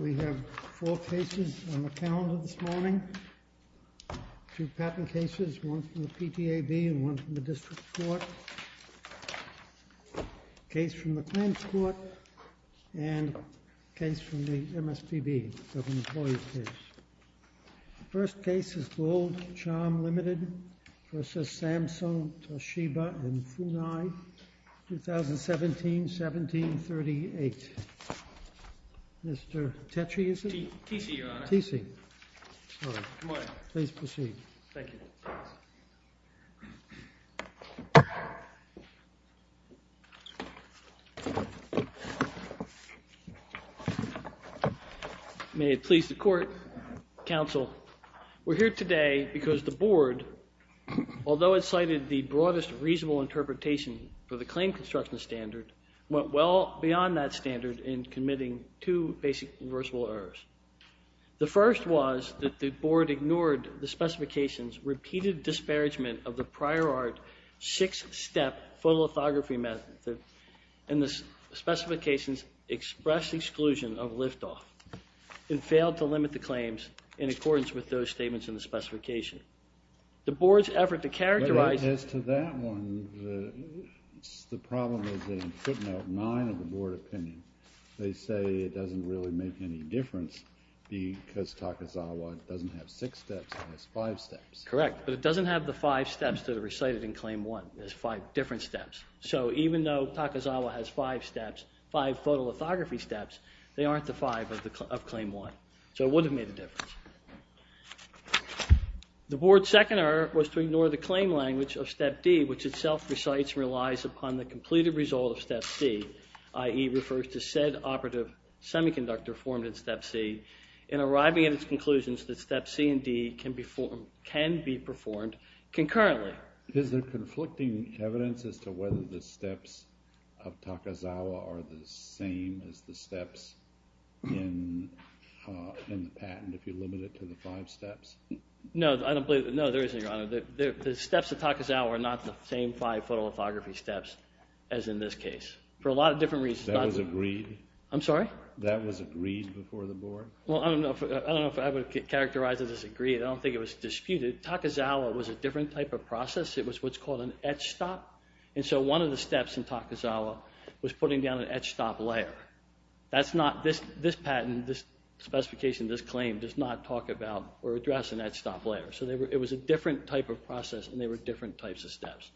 We have four cases on the calendar this morning, two patent cases, one from the PTAB and one from the District Court, a case from the Clarence Court, and a case from the MSPB, so the employee case. The first case is Gold Charm Limited v. Samsung, Toshiba & Funai, 2017-17-38. Mr. Tetchy, is it? T.C., Your Honor. T.C. Good morning. Please proceed. Thank you. May it please the Court. Counsel, we're here today because the Board, although it cited the broadest reasonable interpretation for the claim construction standard, went well beyond that standard in committing two basic reversible errors. The first was that the Board ignored the specification's repeated disparagement of the prior art six-step photolithography method, and the specification's expressed exclusion of liftoff, and failed to limit the claims in accordance with those statements in the specification. The Board's effort to characterize... As to that one, the problem is in footnote nine of the Board opinion. They say it doesn't really make any difference because Takazawa doesn't have six steps, it has five steps. Correct. But it doesn't have the five steps that are recited in Claim 1. There's five different steps. So even though Takazawa has five steps, five photolithography steps, they aren't the five of Claim 1. So it would have made a difference. The Board's second error was to ignore the claim language of Step D, which itself recites and relies upon the completed result of Step C, i.e., refers to said operative semiconductor formed in Step C, in arriving at its conclusions that Step C and D can be performed concurrently. Is there conflicting evidence as to whether the steps of Takazawa are the same as the steps in the patent, if you limit it to the five steps? No, I don't believe... No, there isn't, Your Honor. The steps of Takazawa are not the same five photolithography steps as in this case, for a lot of different reasons. That was agreed? I'm sorry? That was agreed before the Board? Well, I don't know if I would characterize it as agreed. I don't think it was disputed. Takazawa was a different type of process. It was what's called an etch stop. And so one of the steps in Takazawa was putting down an etch stop layer. That's not... This patent, this specification, this claim does not talk about or address an etch stop layer. So it was a different type of process, and they were different types of steps.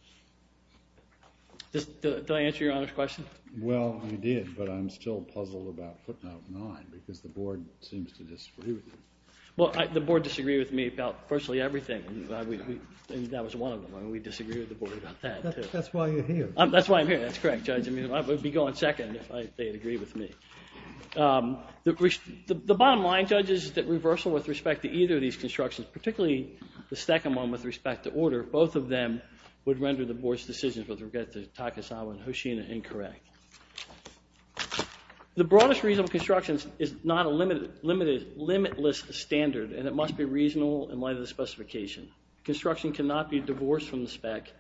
Did I answer Your Honor's question? Well, you did, but I'm still puzzled about footnote nine because the Board seems to disagree with you. Well, the Board disagreed with me about virtually everything, and that was one of them. And we disagreed with the Board about that, too. That's why you're here. That's why I'm here. That's correct, Judge. I mean, I would be going second if they'd agree with me. The bottom line, Judge, is that reversal with respect to either of these constructions, particularly the second one with respect to order, both of them would render the Board's decisions with regard to Takazawa and Hoshino incorrect. The broadest reasonable construction is not a limitless standard, and it must be reasonable in light of the specification. Construction cannot be divorced from the spec,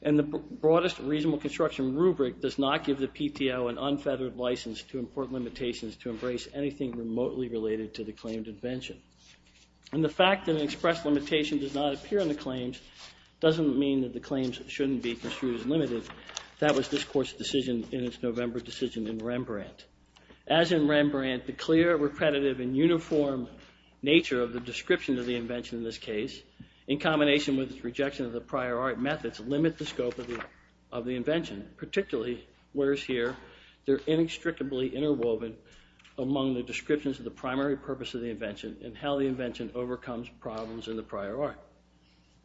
and the broadest reasonable construction rubric does not give the PTO an unfeathered license to import limitations to embrace anything remotely related to the claimed invention. And the fact that an expressed limitation does not appear in the claims doesn't mean that the claims shouldn't be construed as limited. That was this Court's decision in its November decision in Rembrandt. As in Rembrandt, the clear, repredative, and uniform nature of the description of the invention in this case, in combination with its rejection of the prior art methods, limit the scope of the invention, particularly, whereas here, they're inextricably interwoven among the descriptions of the primary purpose of the invention and how the invention overcomes problems in the prior art.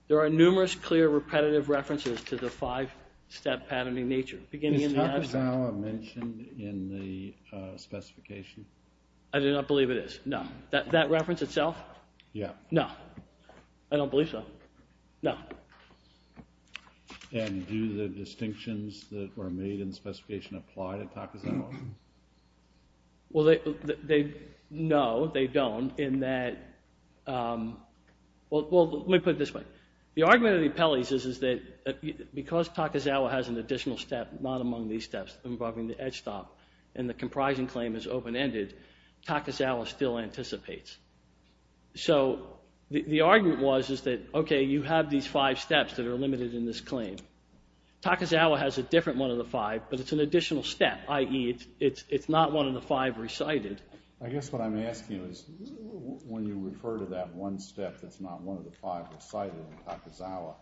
There are numerous clear, repetitive references to the five-step patterning nature. Is Takazawa mentioned in the specification? I do not believe it is, no. That reference itself? Yeah. No. I don't believe so. No. And do the distinctions that were made in the specification apply to Takazawa? Well, they, no, they don't in that, well, let me put it this way. The argument of the appellees is that because Takazawa has an additional step not among these steps involving the edge stop and the comprising claim is open-ended, Takazawa still anticipates. So the argument was that, okay, you have these five steps that are limited in this claim. Takazawa has a different one of the five, but it's an additional step, i.e., it's not one of the five recited. I guess what I'm asking is when you refer to that one step that's not one of the five recited in Takazawa,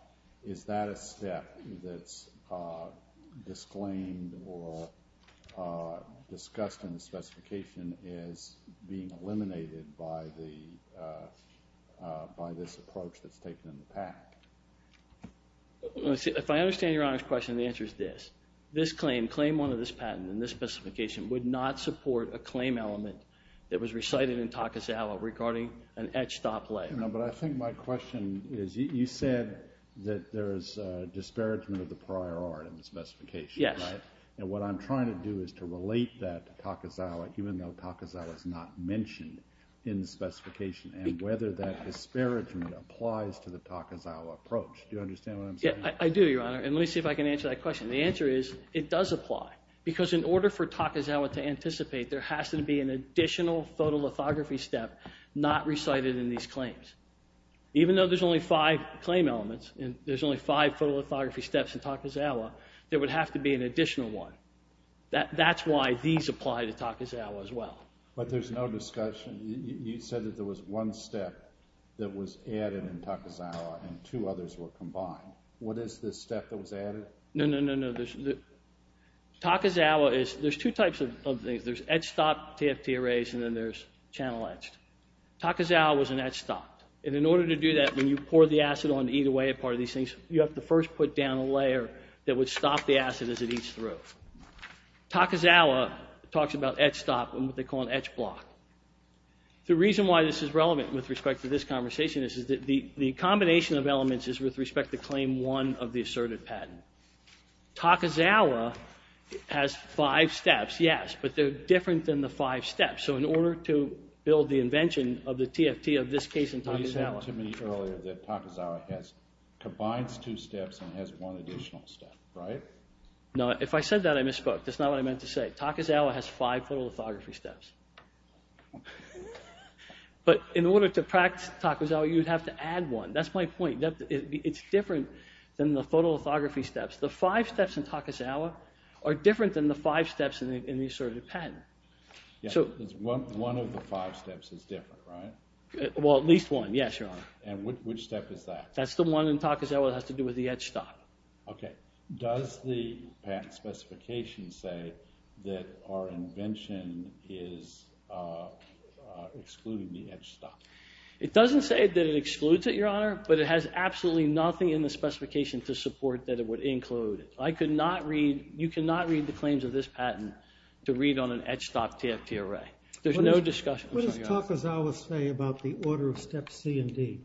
is that a step that's disclaimed or discussed in the specification as being eliminated by this approach that's taken in the PAC? If I understand Your Honor's question, the answer is this. This claim, claim one of this patent in this specification would not support a claim element that was recited in Takazawa regarding an edge stop layer. No, but I think my question is you said that there's a disparagement of the prior art in the specification, right? Yes. And what I'm trying to do is to relate that to Takazawa even though Takazawa is not mentioned in the specification and whether that disparagement applies to the Takazawa approach. Do you understand what I'm saying? Yes, I do, Your Honor, and let me see if I can answer that question. The answer is it does apply because in order for Takazawa to anticipate, there has to be an additional photolithography step not recited in these claims. Even though there's only five claim elements and there's only five photolithography steps in Takazawa, there would have to be an additional one. That's why these apply to Takazawa as well. But there's no discussion. You said that there was one step that was added in Takazawa and two others were combined. What is this step that was added? No, no, no, no. Takazawa is, there's two types of things. There's edge stop TFT arrays and then there's channel edge. Takazawa was an edge stop. And in order to do that, when you pour the acid on either way a part of these things, you have to first put down a layer that would stop the acid as it eats through. Takazawa talks about edge stop and what they call an edge block. The reason why this is relevant with respect to this conversation is that the combination of elements is with respect to Claim 1 of the asserted patent. Takazawa has five steps, yes, but they're different than the five steps. So in order to build the invention of the TFT of this case in Takazawa. You said to me earlier that Takazawa combines two steps and has one additional step, right? No, if I said that, I misspoke. That's not what I meant to say. Takazawa has five photolithography steps. But in order to practice Takazawa, you'd have to add one. That's my point. It's different than the photolithography steps. The five steps in Takazawa are different than the five steps in the asserted patent. One of the five steps is different, right? Well, at least one, yes, Your Honor. And which step is that? That's the one in Takazawa that has to do with the edge stop. Okay. Does the patent specification say that our invention is excluding the edge stop? It doesn't say that it excludes it, Your Honor, but it has absolutely nothing in the specification to support that it would include it. I could not read, you cannot read the claims of this patent to read on an edge stop TFT array. There's no discussion. What does Takazawa say about the order of steps C and D?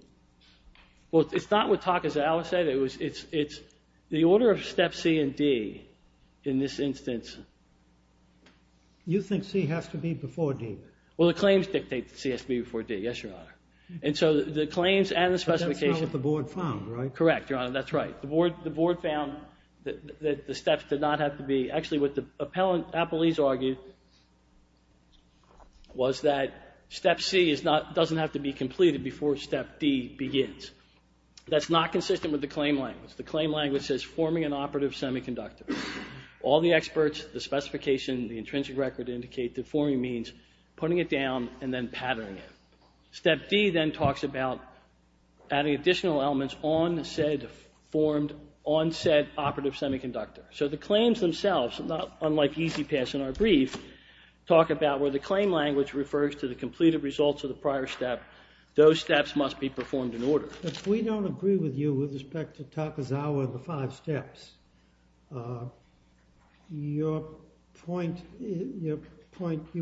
Well, it's not what Takazawa said. It's the order of steps C and D in this instance. You think C has to be before D? Well, the claims dictate that C has to be before D, yes, Your Honor. And so the claims and the specification— But that's not what the board found, right? Correct, Your Honor. That's right. The board found that the steps did not have to be— Actually, what the appellees argued was that step C doesn't have to be completed before step D begins. That's not consistent with the claim language. The claim language says forming an operative semiconductor. All the experts, the specification, the intrinsic record indicate that forming means putting it down and then patterning it. Step D then talks about adding additional elements on said operative semiconductor. So the claims themselves, not unlike EasyPass in our brief, talk about where the claim language refers to the completed results of the prior step. Those steps must be performed in order. If we don't agree with you with respect to Takazawa, the five steps, your point, you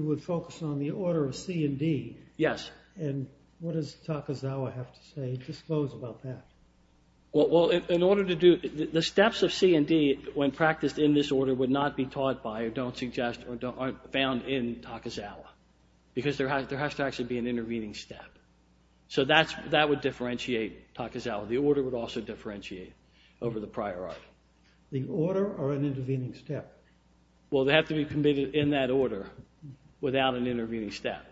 would focus on the order of C and D. Yes. And what does Takazawa have to say, disclose about that? Well, in order to do—the steps of C and D, when practiced in this order, would not be taught by or don't suggest or aren't found in Takazawa because there has to actually be an intervening step. So that would differentiate Takazawa. The order would also differentiate over the prior art. The order or an intervening step? Well, they have to be committed in that order without an intervening step.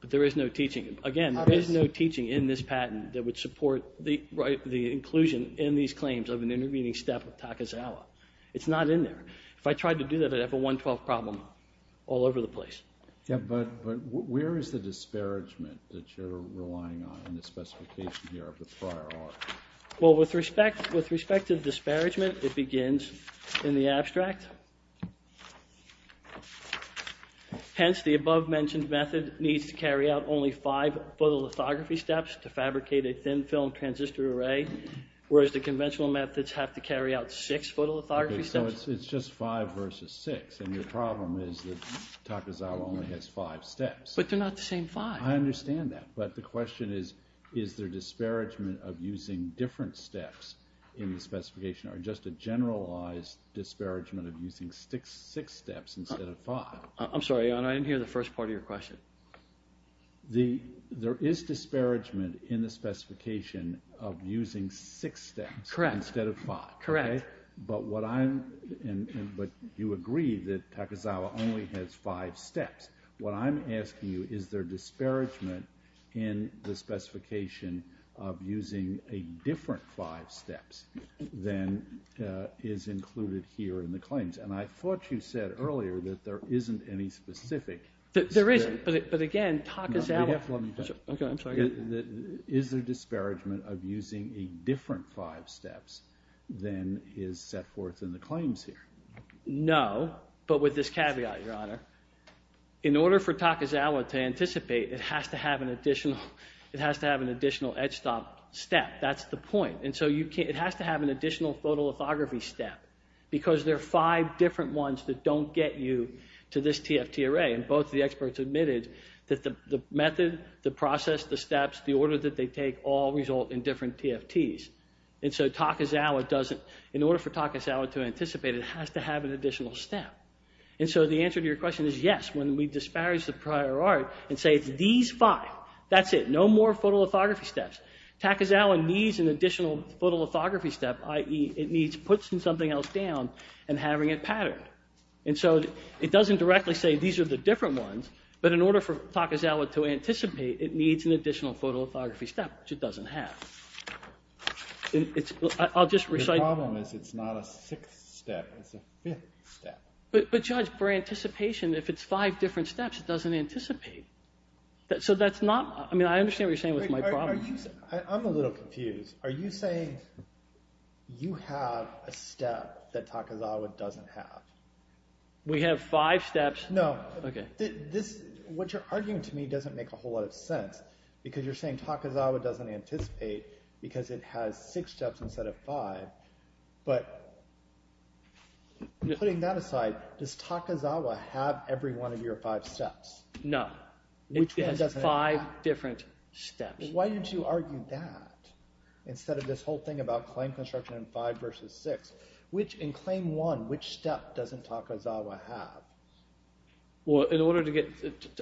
But there is no teaching. Again, there is no teaching in this patent that would support the inclusion in these claims of an intervening step of Takazawa. It's not in there. If I tried to do that, I'd have a 112 problem all over the place. Yeah, but where is the disparagement that you're relying on in the specification here of the prior art? Well, with respect to the disparagement, it begins in the abstract. Hence, the above-mentioned method needs to carry out only five photolithography steps to fabricate a thin-film transistor array, whereas the conventional methods have to carry out six photolithography steps. Okay, so it's just five versus six, and your problem is that Takazawa only has five steps. But they're not the same five. I understand that, but the question is, is there disparagement of using different steps in the specification or just a generalized disparagement of using six steps instead of five? I'm sorry, Your Honor. I didn't hear the first part of your question. There is disparagement in the specification of using six steps instead of five. Correct. But you agree that Takazawa only has five steps. What I'm asking you, is there disparagement in the specification of using a different five steps than is included here in the claims? And I thought you said earlier that there isn't any specific. There is, but again, Takazawa. No, you have to let me finish. Okay, I'm sorry. Is there disparagement of using a different five steps than is set forth in the claims here? No, but with this caveat, Your Honor. In order for Takazawa to anticipate, it has to have an additional edge stop step. That's the point. And so it has to have an additional photolithography step because there are five different ones that don't get you to this TFT array. And both the experts admitted that the method, the process, the steps, the order that they take all result in different TFTs. And so Takazawa doesn't, in order for Takazawa to anticipate, it has to have an additional step. And so the answer to your question is yes. When we disparage the prior art and say it's these five, that's it. No more photolithography steps. Takazawa needs an additional photolithography step, i.e., it needs putting something else down and having it patterned. And so it doesn't directly say these are the different ones, but in order for Takazawa to anticipate, it needs an additional photolithography step, which it doesn't have. I'll just recite. The problem is it's not a sixth step. It's a fifth step. But, Judge, for anticipation, if it's five different steps, it doesn't anticipate. So that's not – I mean, I understand what you're saying with my problem. I'm a little confused. Are you saying you have a step that Takazawa doesn't have? We have five steps. No. Okay. What you're arguing to me doesn't make a whole lot of sense because you're saying Takazawa doesn't anticipate because it has six steps instead of five. But putting that aside, does Takazawa have every one of your five steps? No. Which one doesn't it have? It has five different steps. Why didn't you argue that instead of this whole thing about claim construction and five versus six? Which – in claim one, which step doesn't Takazawa have? Well, in order to get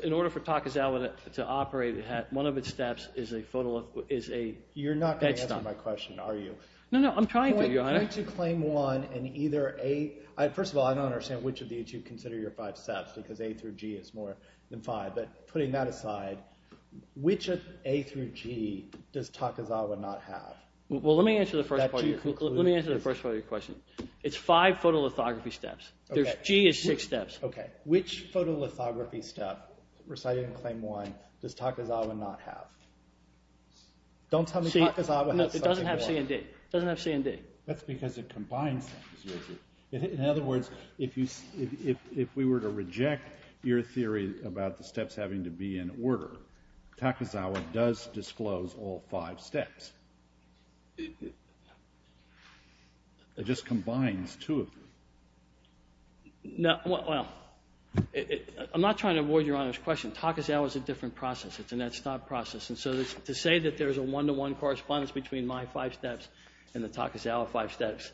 – in order for Takazawa to operate, one of its steps is a – You're not going to answer my question, are you? No, no. I'm trying to, Your Honor. Point to claim one and either A – first of all, I don't understand which of these you consider your five steps because A through G is more than five. But putting that aside, which of A through G does Takazawa not have? Well, let me answer the first part of your question. It's five photolithography steps. G is six steps. Okay. Which photolithography step, reciting claim one, does Takazawa not have? Don't tell me Takazawa has something in one. It doesn't have C and D. It doesn't have C and D. That's because it combines them. In other words, if we were to reject your theory about the steps having to be in order, Takazawa does disclose all five steps. It just combines two of them. Well, I'm not trying to avoid Your Honor's question. Takazawa is a different process. It's a net stop process. And so to say that there's a one-to-one correspondence between my five steps and the Takazawa five steps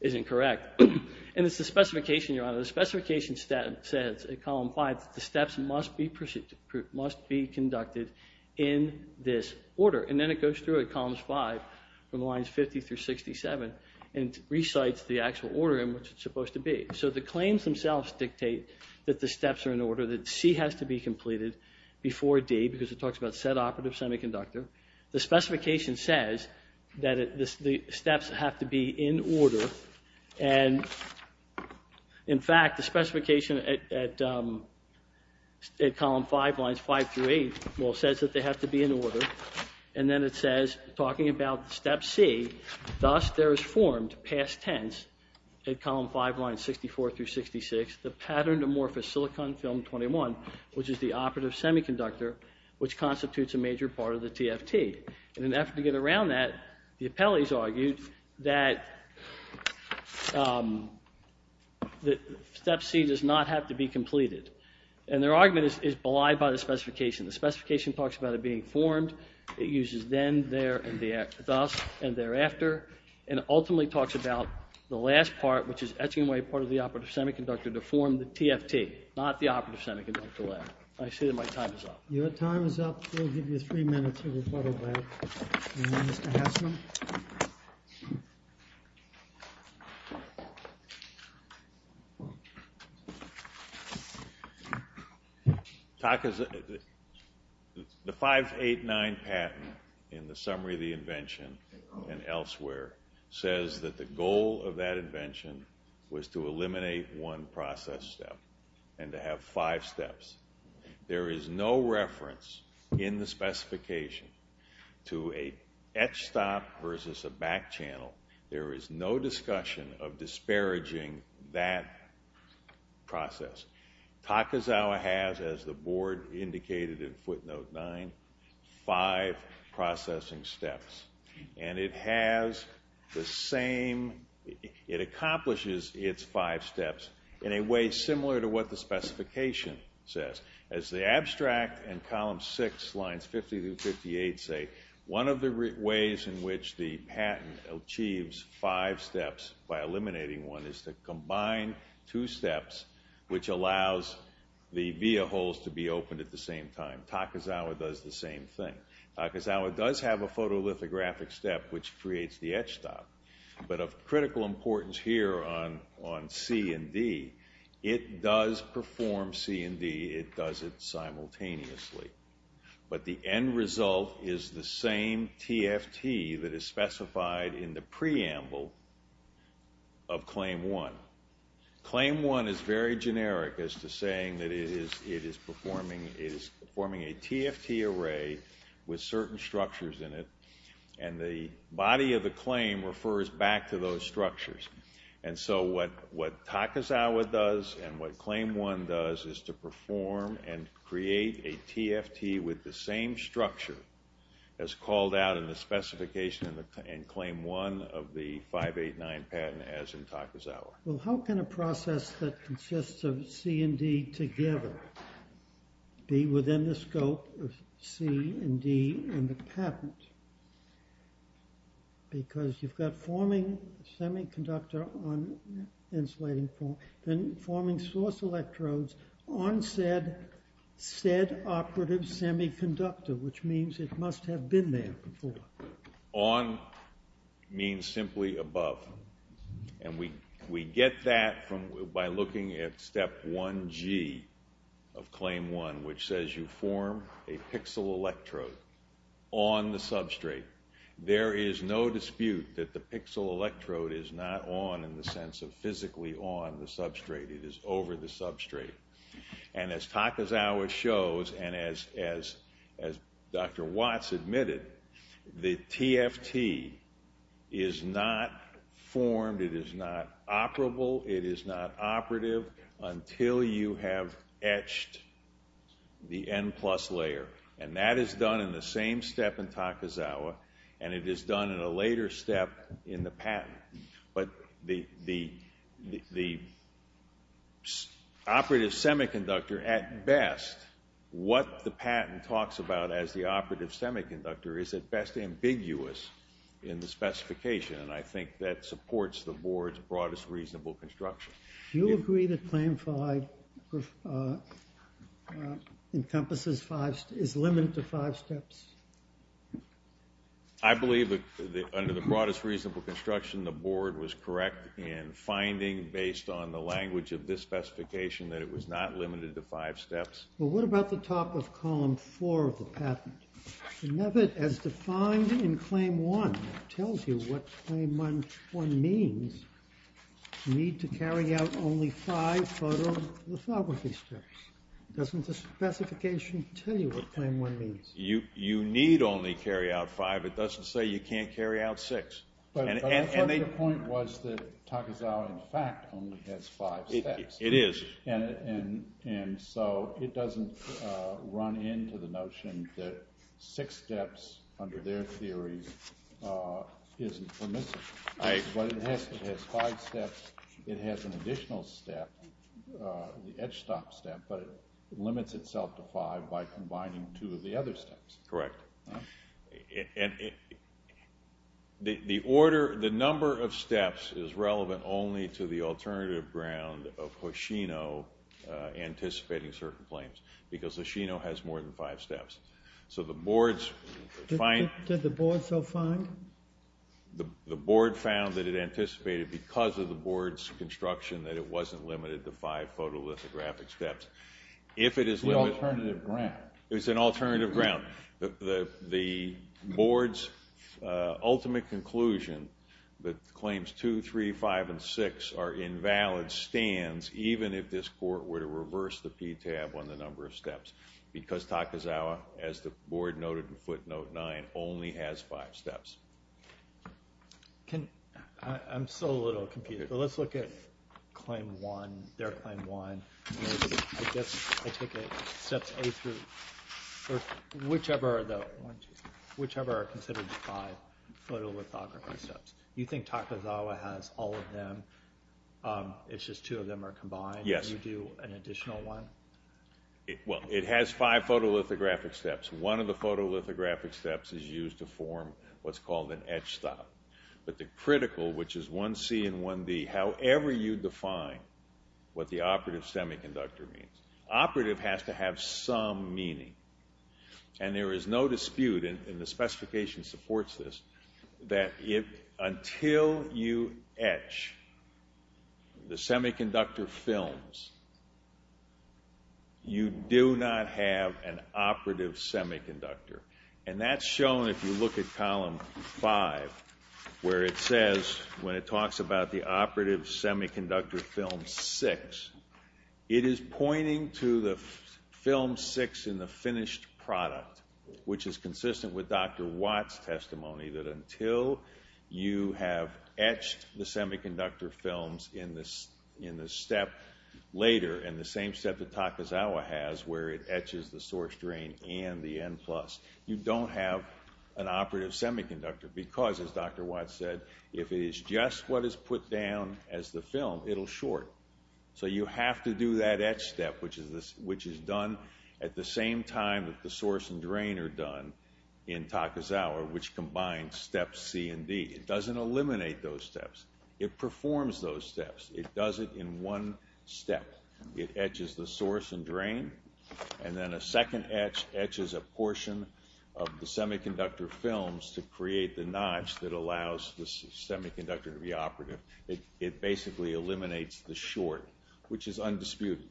isn't correct. And it's the specification, Your Honor. The specification says in column five that the steps must be conducted in this order. And then it goes through at columns five from lines 50 through 67 and recites the actual order in which it's supposed to be. So the claims themselves dictate that the steps are in order, that C has to be completed before D because it talks about set operative semiconductor. The specification says that the steps have to be in order. And, in fact, the specification at column five lines five through eight, well, says that they have to be in order. And then it says, talking about step C, thus there is formed, past tense, at column five lines 64 through 66, the patterned amorphous silicon film 21, which is the operative semiconductor, which constitutes a major part of the TFT. In an effort to get around that, the appellees argued that step C does not have to be completed. And their argument is belied by the specification. The specification talks about it being formed. It uses then, there, and thus, and thereafter, and ultimately talks about the last part, which is etching away part of the operative semiconductor to form the TFT, not the operative semiconductor layer. I see that my time is up. Your time is up. We'll give you three minutes of your photo break. And then Mr. Haslund. The 589 pattern in the summary of the invention and elsewhere says that the goal of that invention was to eliminate one process step and to have five steps. There is no reference in the specification to an etch stop versus a back channel. There is no discussion of disparaging that process. Takazawa has, as the board indicated in footnote nine, five processing steps. And it has the same, it accomplishes its five steps in a way similar to what the specification says. As the abstract and column six, lines 50 through 58 say, one of the ways in which the patent achieves five steps by eliminating one is to combine two steps, which allows the via holes to be opened at the same time. Takazawa does the same thing. Takazawa does have a photolithographic step which creates the etch stop. But of critical importance here on C and D, it does perform C and D, it does it simultaneously. But the end result is the same TFT that is specified in the preamble of claim one. Claim one is very generic as to saying that it is performing a TFT array with certain structures in it. And the body of the claim refers back to those structures. And so what Takazawa does and what claim one does is to perform and create a TFT with the same structure as called out in the specification in claim one of the 589 patent as in Takazawa. Well, how can a process that consists of C and D together be within the scope of C and D in the patent? Because you've got forming semiconductor on insulating form, then forming source electrodes on said operative semiconductor, which means it must have been there before. On means simply above. And we get that by looking at step 1G of claim one, which says you form a pixel electrode on the substrate. There is no dispute that the pixel electrode is not on in the sense of physically on the substrate. It is over the substrate. And as Takazawa shows and as Dr. Watts admitted, the TFT is not formed, it is not operable, it is not operative until you have etched the N plus layer. And that is done in the same step in Takazawa, and it is done in a later step in the patent. But the operative semiconductor at best, what the patent talks about as the operative semiconductor is at best ambiguous in the specification. And I think that supports the board's broadest reasonable construction. Do you agree that claim five encompasses five, is limited to five steps? I believe that under the broadest reasonable construction, the board was correct in finding, based on the language of this specification, that it was not limited to five steps. Well, what about the top of column four of the patent? As defined in claim one, it tells you what claim one means, you need to carry out only five photolithography steps. Doesn't the specification tell you what claim one means? You need only carry out five. It doesn't say you can't carry out six. But the point was that Takazawa, in fact, only has five steps. It is. And so it doesn't run into the notion that six steps, under their theory, isn't permissible. But it has five steps, it has an additional step, the edge stop step, but it limits itself to five by combining two of the other steps. Correct. And the order, the number of steps, is relevant only to the alternative ground of Hoshino anticipating certain claims, because Hoshino has more than five steps. So the board's find— Did the board so find? The board found that it anticipated, because of the board's construction, that it wasn't limited to five photolithographic steps. The alternative ground. It was an alternative ground. The board's ultimate conclusion that claims two, three, five, and six are invalid stands even if this court were to reverse the PTAB on the number of steps, because Takazawa, as the board noted in footnote nine, only has five steps. I'm still a little confused. Let's look at claim one, their claim one. I guess I take it steps A through— whichever are considered the five photolithographic steps. You think Takazawa has all of them, it's just two of them are combined? Yes. You do an additional one? Well, it has five photolithographic steps. One of the photolithographic steps is used to form what's called an edge stop. But the critical, which is 1C and 1D, however you define what the operative semiconductor means, operative has to have some meaning. And there is no dispute, and the specification supports this, that until you etch the semiconductor films, you do not have an operative semiconductor. And that's shown if you look at column five, where it says, when it talks about the operative semiconductor film six, it is pointing to the film six in the finished product, which is consistent with Dr. Watt's testimony, that until you have etched the semiconductor films in the step later, in the same step that Takazawa has, where it etches the source drain and the N plus, you don't have an operative semiconductor, because, as Dr. Watt said, if it is just what is put down as the film, it'll short. So you have to do that etch step, which is done at the same time that the source and drain are done in Takazawa, which combines steps C and D. It doesn't eliminate those steps. It performs those steps. It does it in one step. It etches the source and drain, and then a second etch etches a portion of the semiconductor films to create the notch that allows the semiconductor to be operative. It basically eliminates the short, which is undisputed.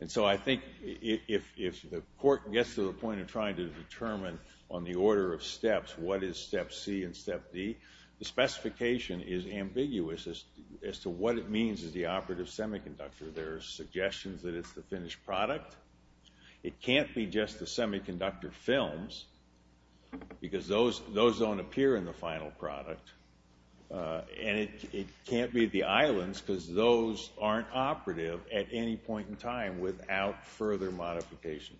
And so I think if the court gets to the point of trying to determine, on the order of steps, what is step C and step D, the specification is ambiguous as to what it means as the operative semiconductor. There are suggestions that it's the finished product. It can't be just the semiconductor films, because those don't appear in the final product. And it can't be the islands, because those aren't operative at any point in time without further modification.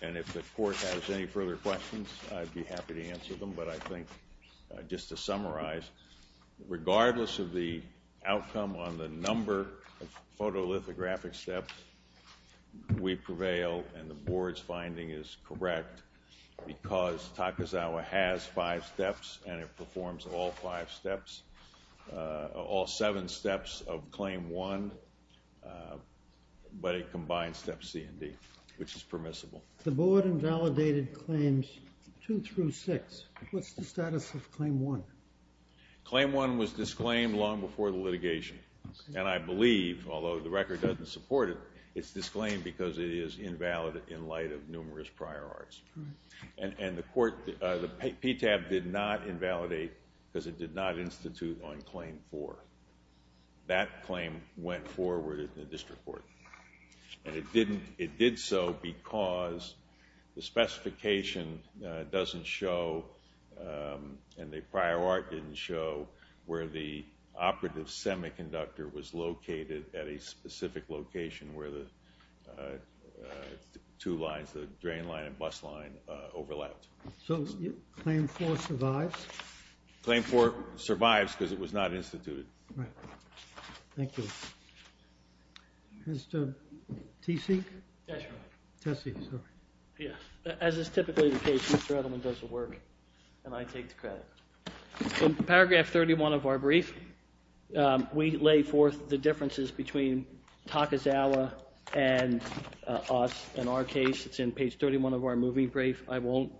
And if the court has any further questions, I'd be happy to answer them. But I think just to summarize, regardless of the outcome on the number of photolithographic steps, we prevail, and the board's finding is correct, because Takazawa has five steps, and it performs all five steps, all seven steps of Claim 1, but it combines Step C and D, which is permissible. The board invalidated Claims 2 through 6. What's the status of Claim 1? Claim 1 was disclaimed long before the litigation. And I believe, although the record doesn't support it, it's disclaimed because it is invalid in light of numerous prior arts. And the PTAB did not invalidate because it did not institute on Claim 4. That claim went forward in the district court. And it did so because the specification doesn't show, and the prior art didn't show, where the operative semiconductor was located at a specific location where the two lines, the drain line and bus line, overlapped. So Claim 4 survives? Claim 4 survives because it was not instituted. Right. Thank you. Mr. Teeseek? Tessie. Tessie, sorry. As is typically the case, Mr. Edelman does the work, and I take the credit. In paragraph 31 of our brief, we lay forth the differences between Takazawa and us. In our case, it's in page 31 of our moving brief. I won't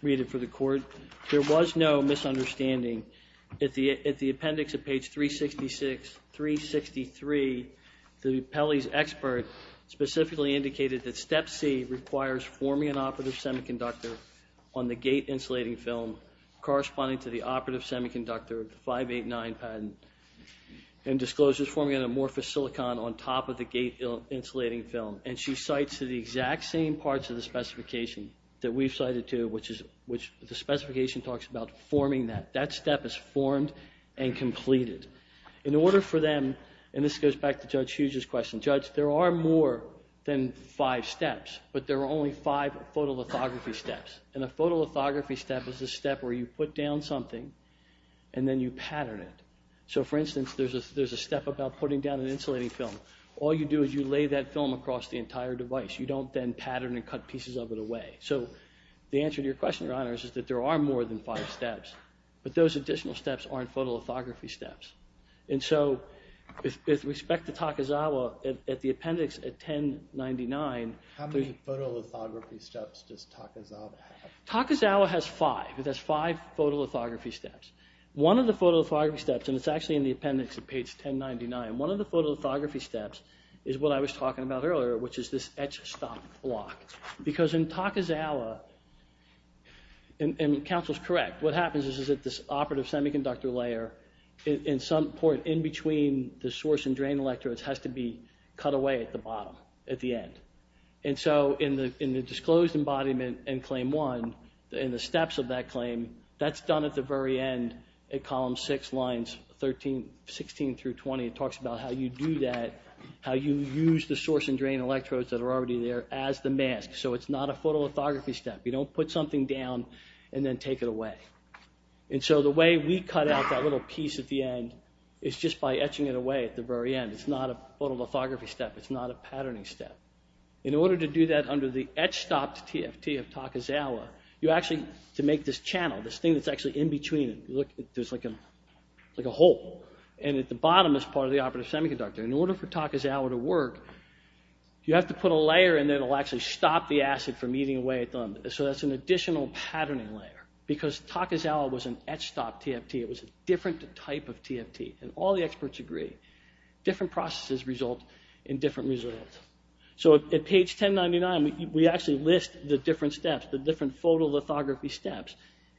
read it for the court. There was no misunderstanding. At the appendix at page 366, 363, the Pelley's expert specifically indicated that Step C requires forming an operative semiconductor on the gate insulating film corresponding to the operative semiconductor of the 589 patent and discloses forming an amorphous silicon on top of the gate insulating film. And she cites the exact same parts of the specification that we've cited too, which the specification talks about forming that. That step is formed and completed. In order for them, and this goes back to Judge Hughes' question, Judge, there are more than five steps, but there are only five photolithography steps. And a photolithography step is a step where you put down something and then you pattern it. So, for instance, there's a step about putting down an insulating film. All you do is you lay that film across the entire device. You don't then pattern and cut pieces of it away. So the answer to your question, Your Honor, is that there are more than five steps, but those additional steps aren't photolithography steps. And so, with respect to Takizawa, at the appendix at 1099, How many photolithography steps does Takizawa have? Takizawa has five. It has five photolithography steps. One of the photolithography steps, and it's actually in the appendix at page 1099, one of the photolithography steps is what I was talking about earlier, which is this etch stop block. Because in Takizawa, and counsel's correct, what happens is that this operative semiconductor layer, at some point in between the source and drain electrodes, has to be cut away at the bottom, at the end. And so in the disclosed embodiment in claim one, in the steps of that claim, that's done at the very end at column six, lines 16 through 20. It talks about how you do that, how you use the source and drain electrodes that are already there as the mask. So it's not a photolithography step. You don't put something down and then take it away. And so the way we cut out that little piece at the end is just by etching it away at the very end. It's not a photolithography step. It's not a patterning step. In order to do that under the etch stop TFT of Takizawa, you actually, to make this channel, this thing that's actually in between, there's like a hole, and at the bottom is part of the operative semiconductor. In order for Takizawa to work, you have to put a layer in there that'll actually stop the acid from eating away at them. So that's an additional patterning layer. Because Takizawa was an etch stop TFT. It was a different type of TFT, and all the experts agree. Different processes result in different results. So at page 1099, we actually list the different steps, the different photolithography steps.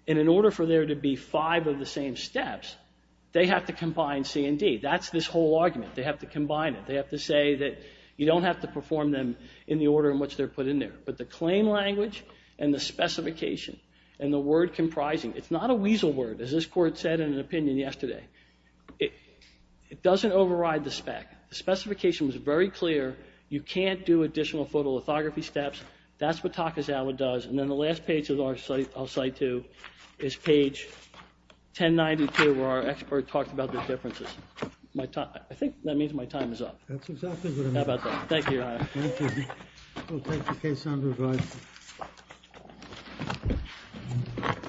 And in order for there to be five of the same steps, they have to combine C and D. That's this whole argument. They have to combine it. They have to say that you don't have to perform them in the order in which they're put in there. But the claim language and the specification and the word comprising, it's not a weasel word, as this court said in an opinion yesterday. It doesn't override the spec. The specification was very clear. You can't do additional photolithography steps. That's what Takizawa does. And then the last page I'll cite to is page 1092, where our expert talked about the differences. I think that means my time is up. That's exactly what I meant. How about that? Thank you, Your Honor. Thank you. We'll take the case on review.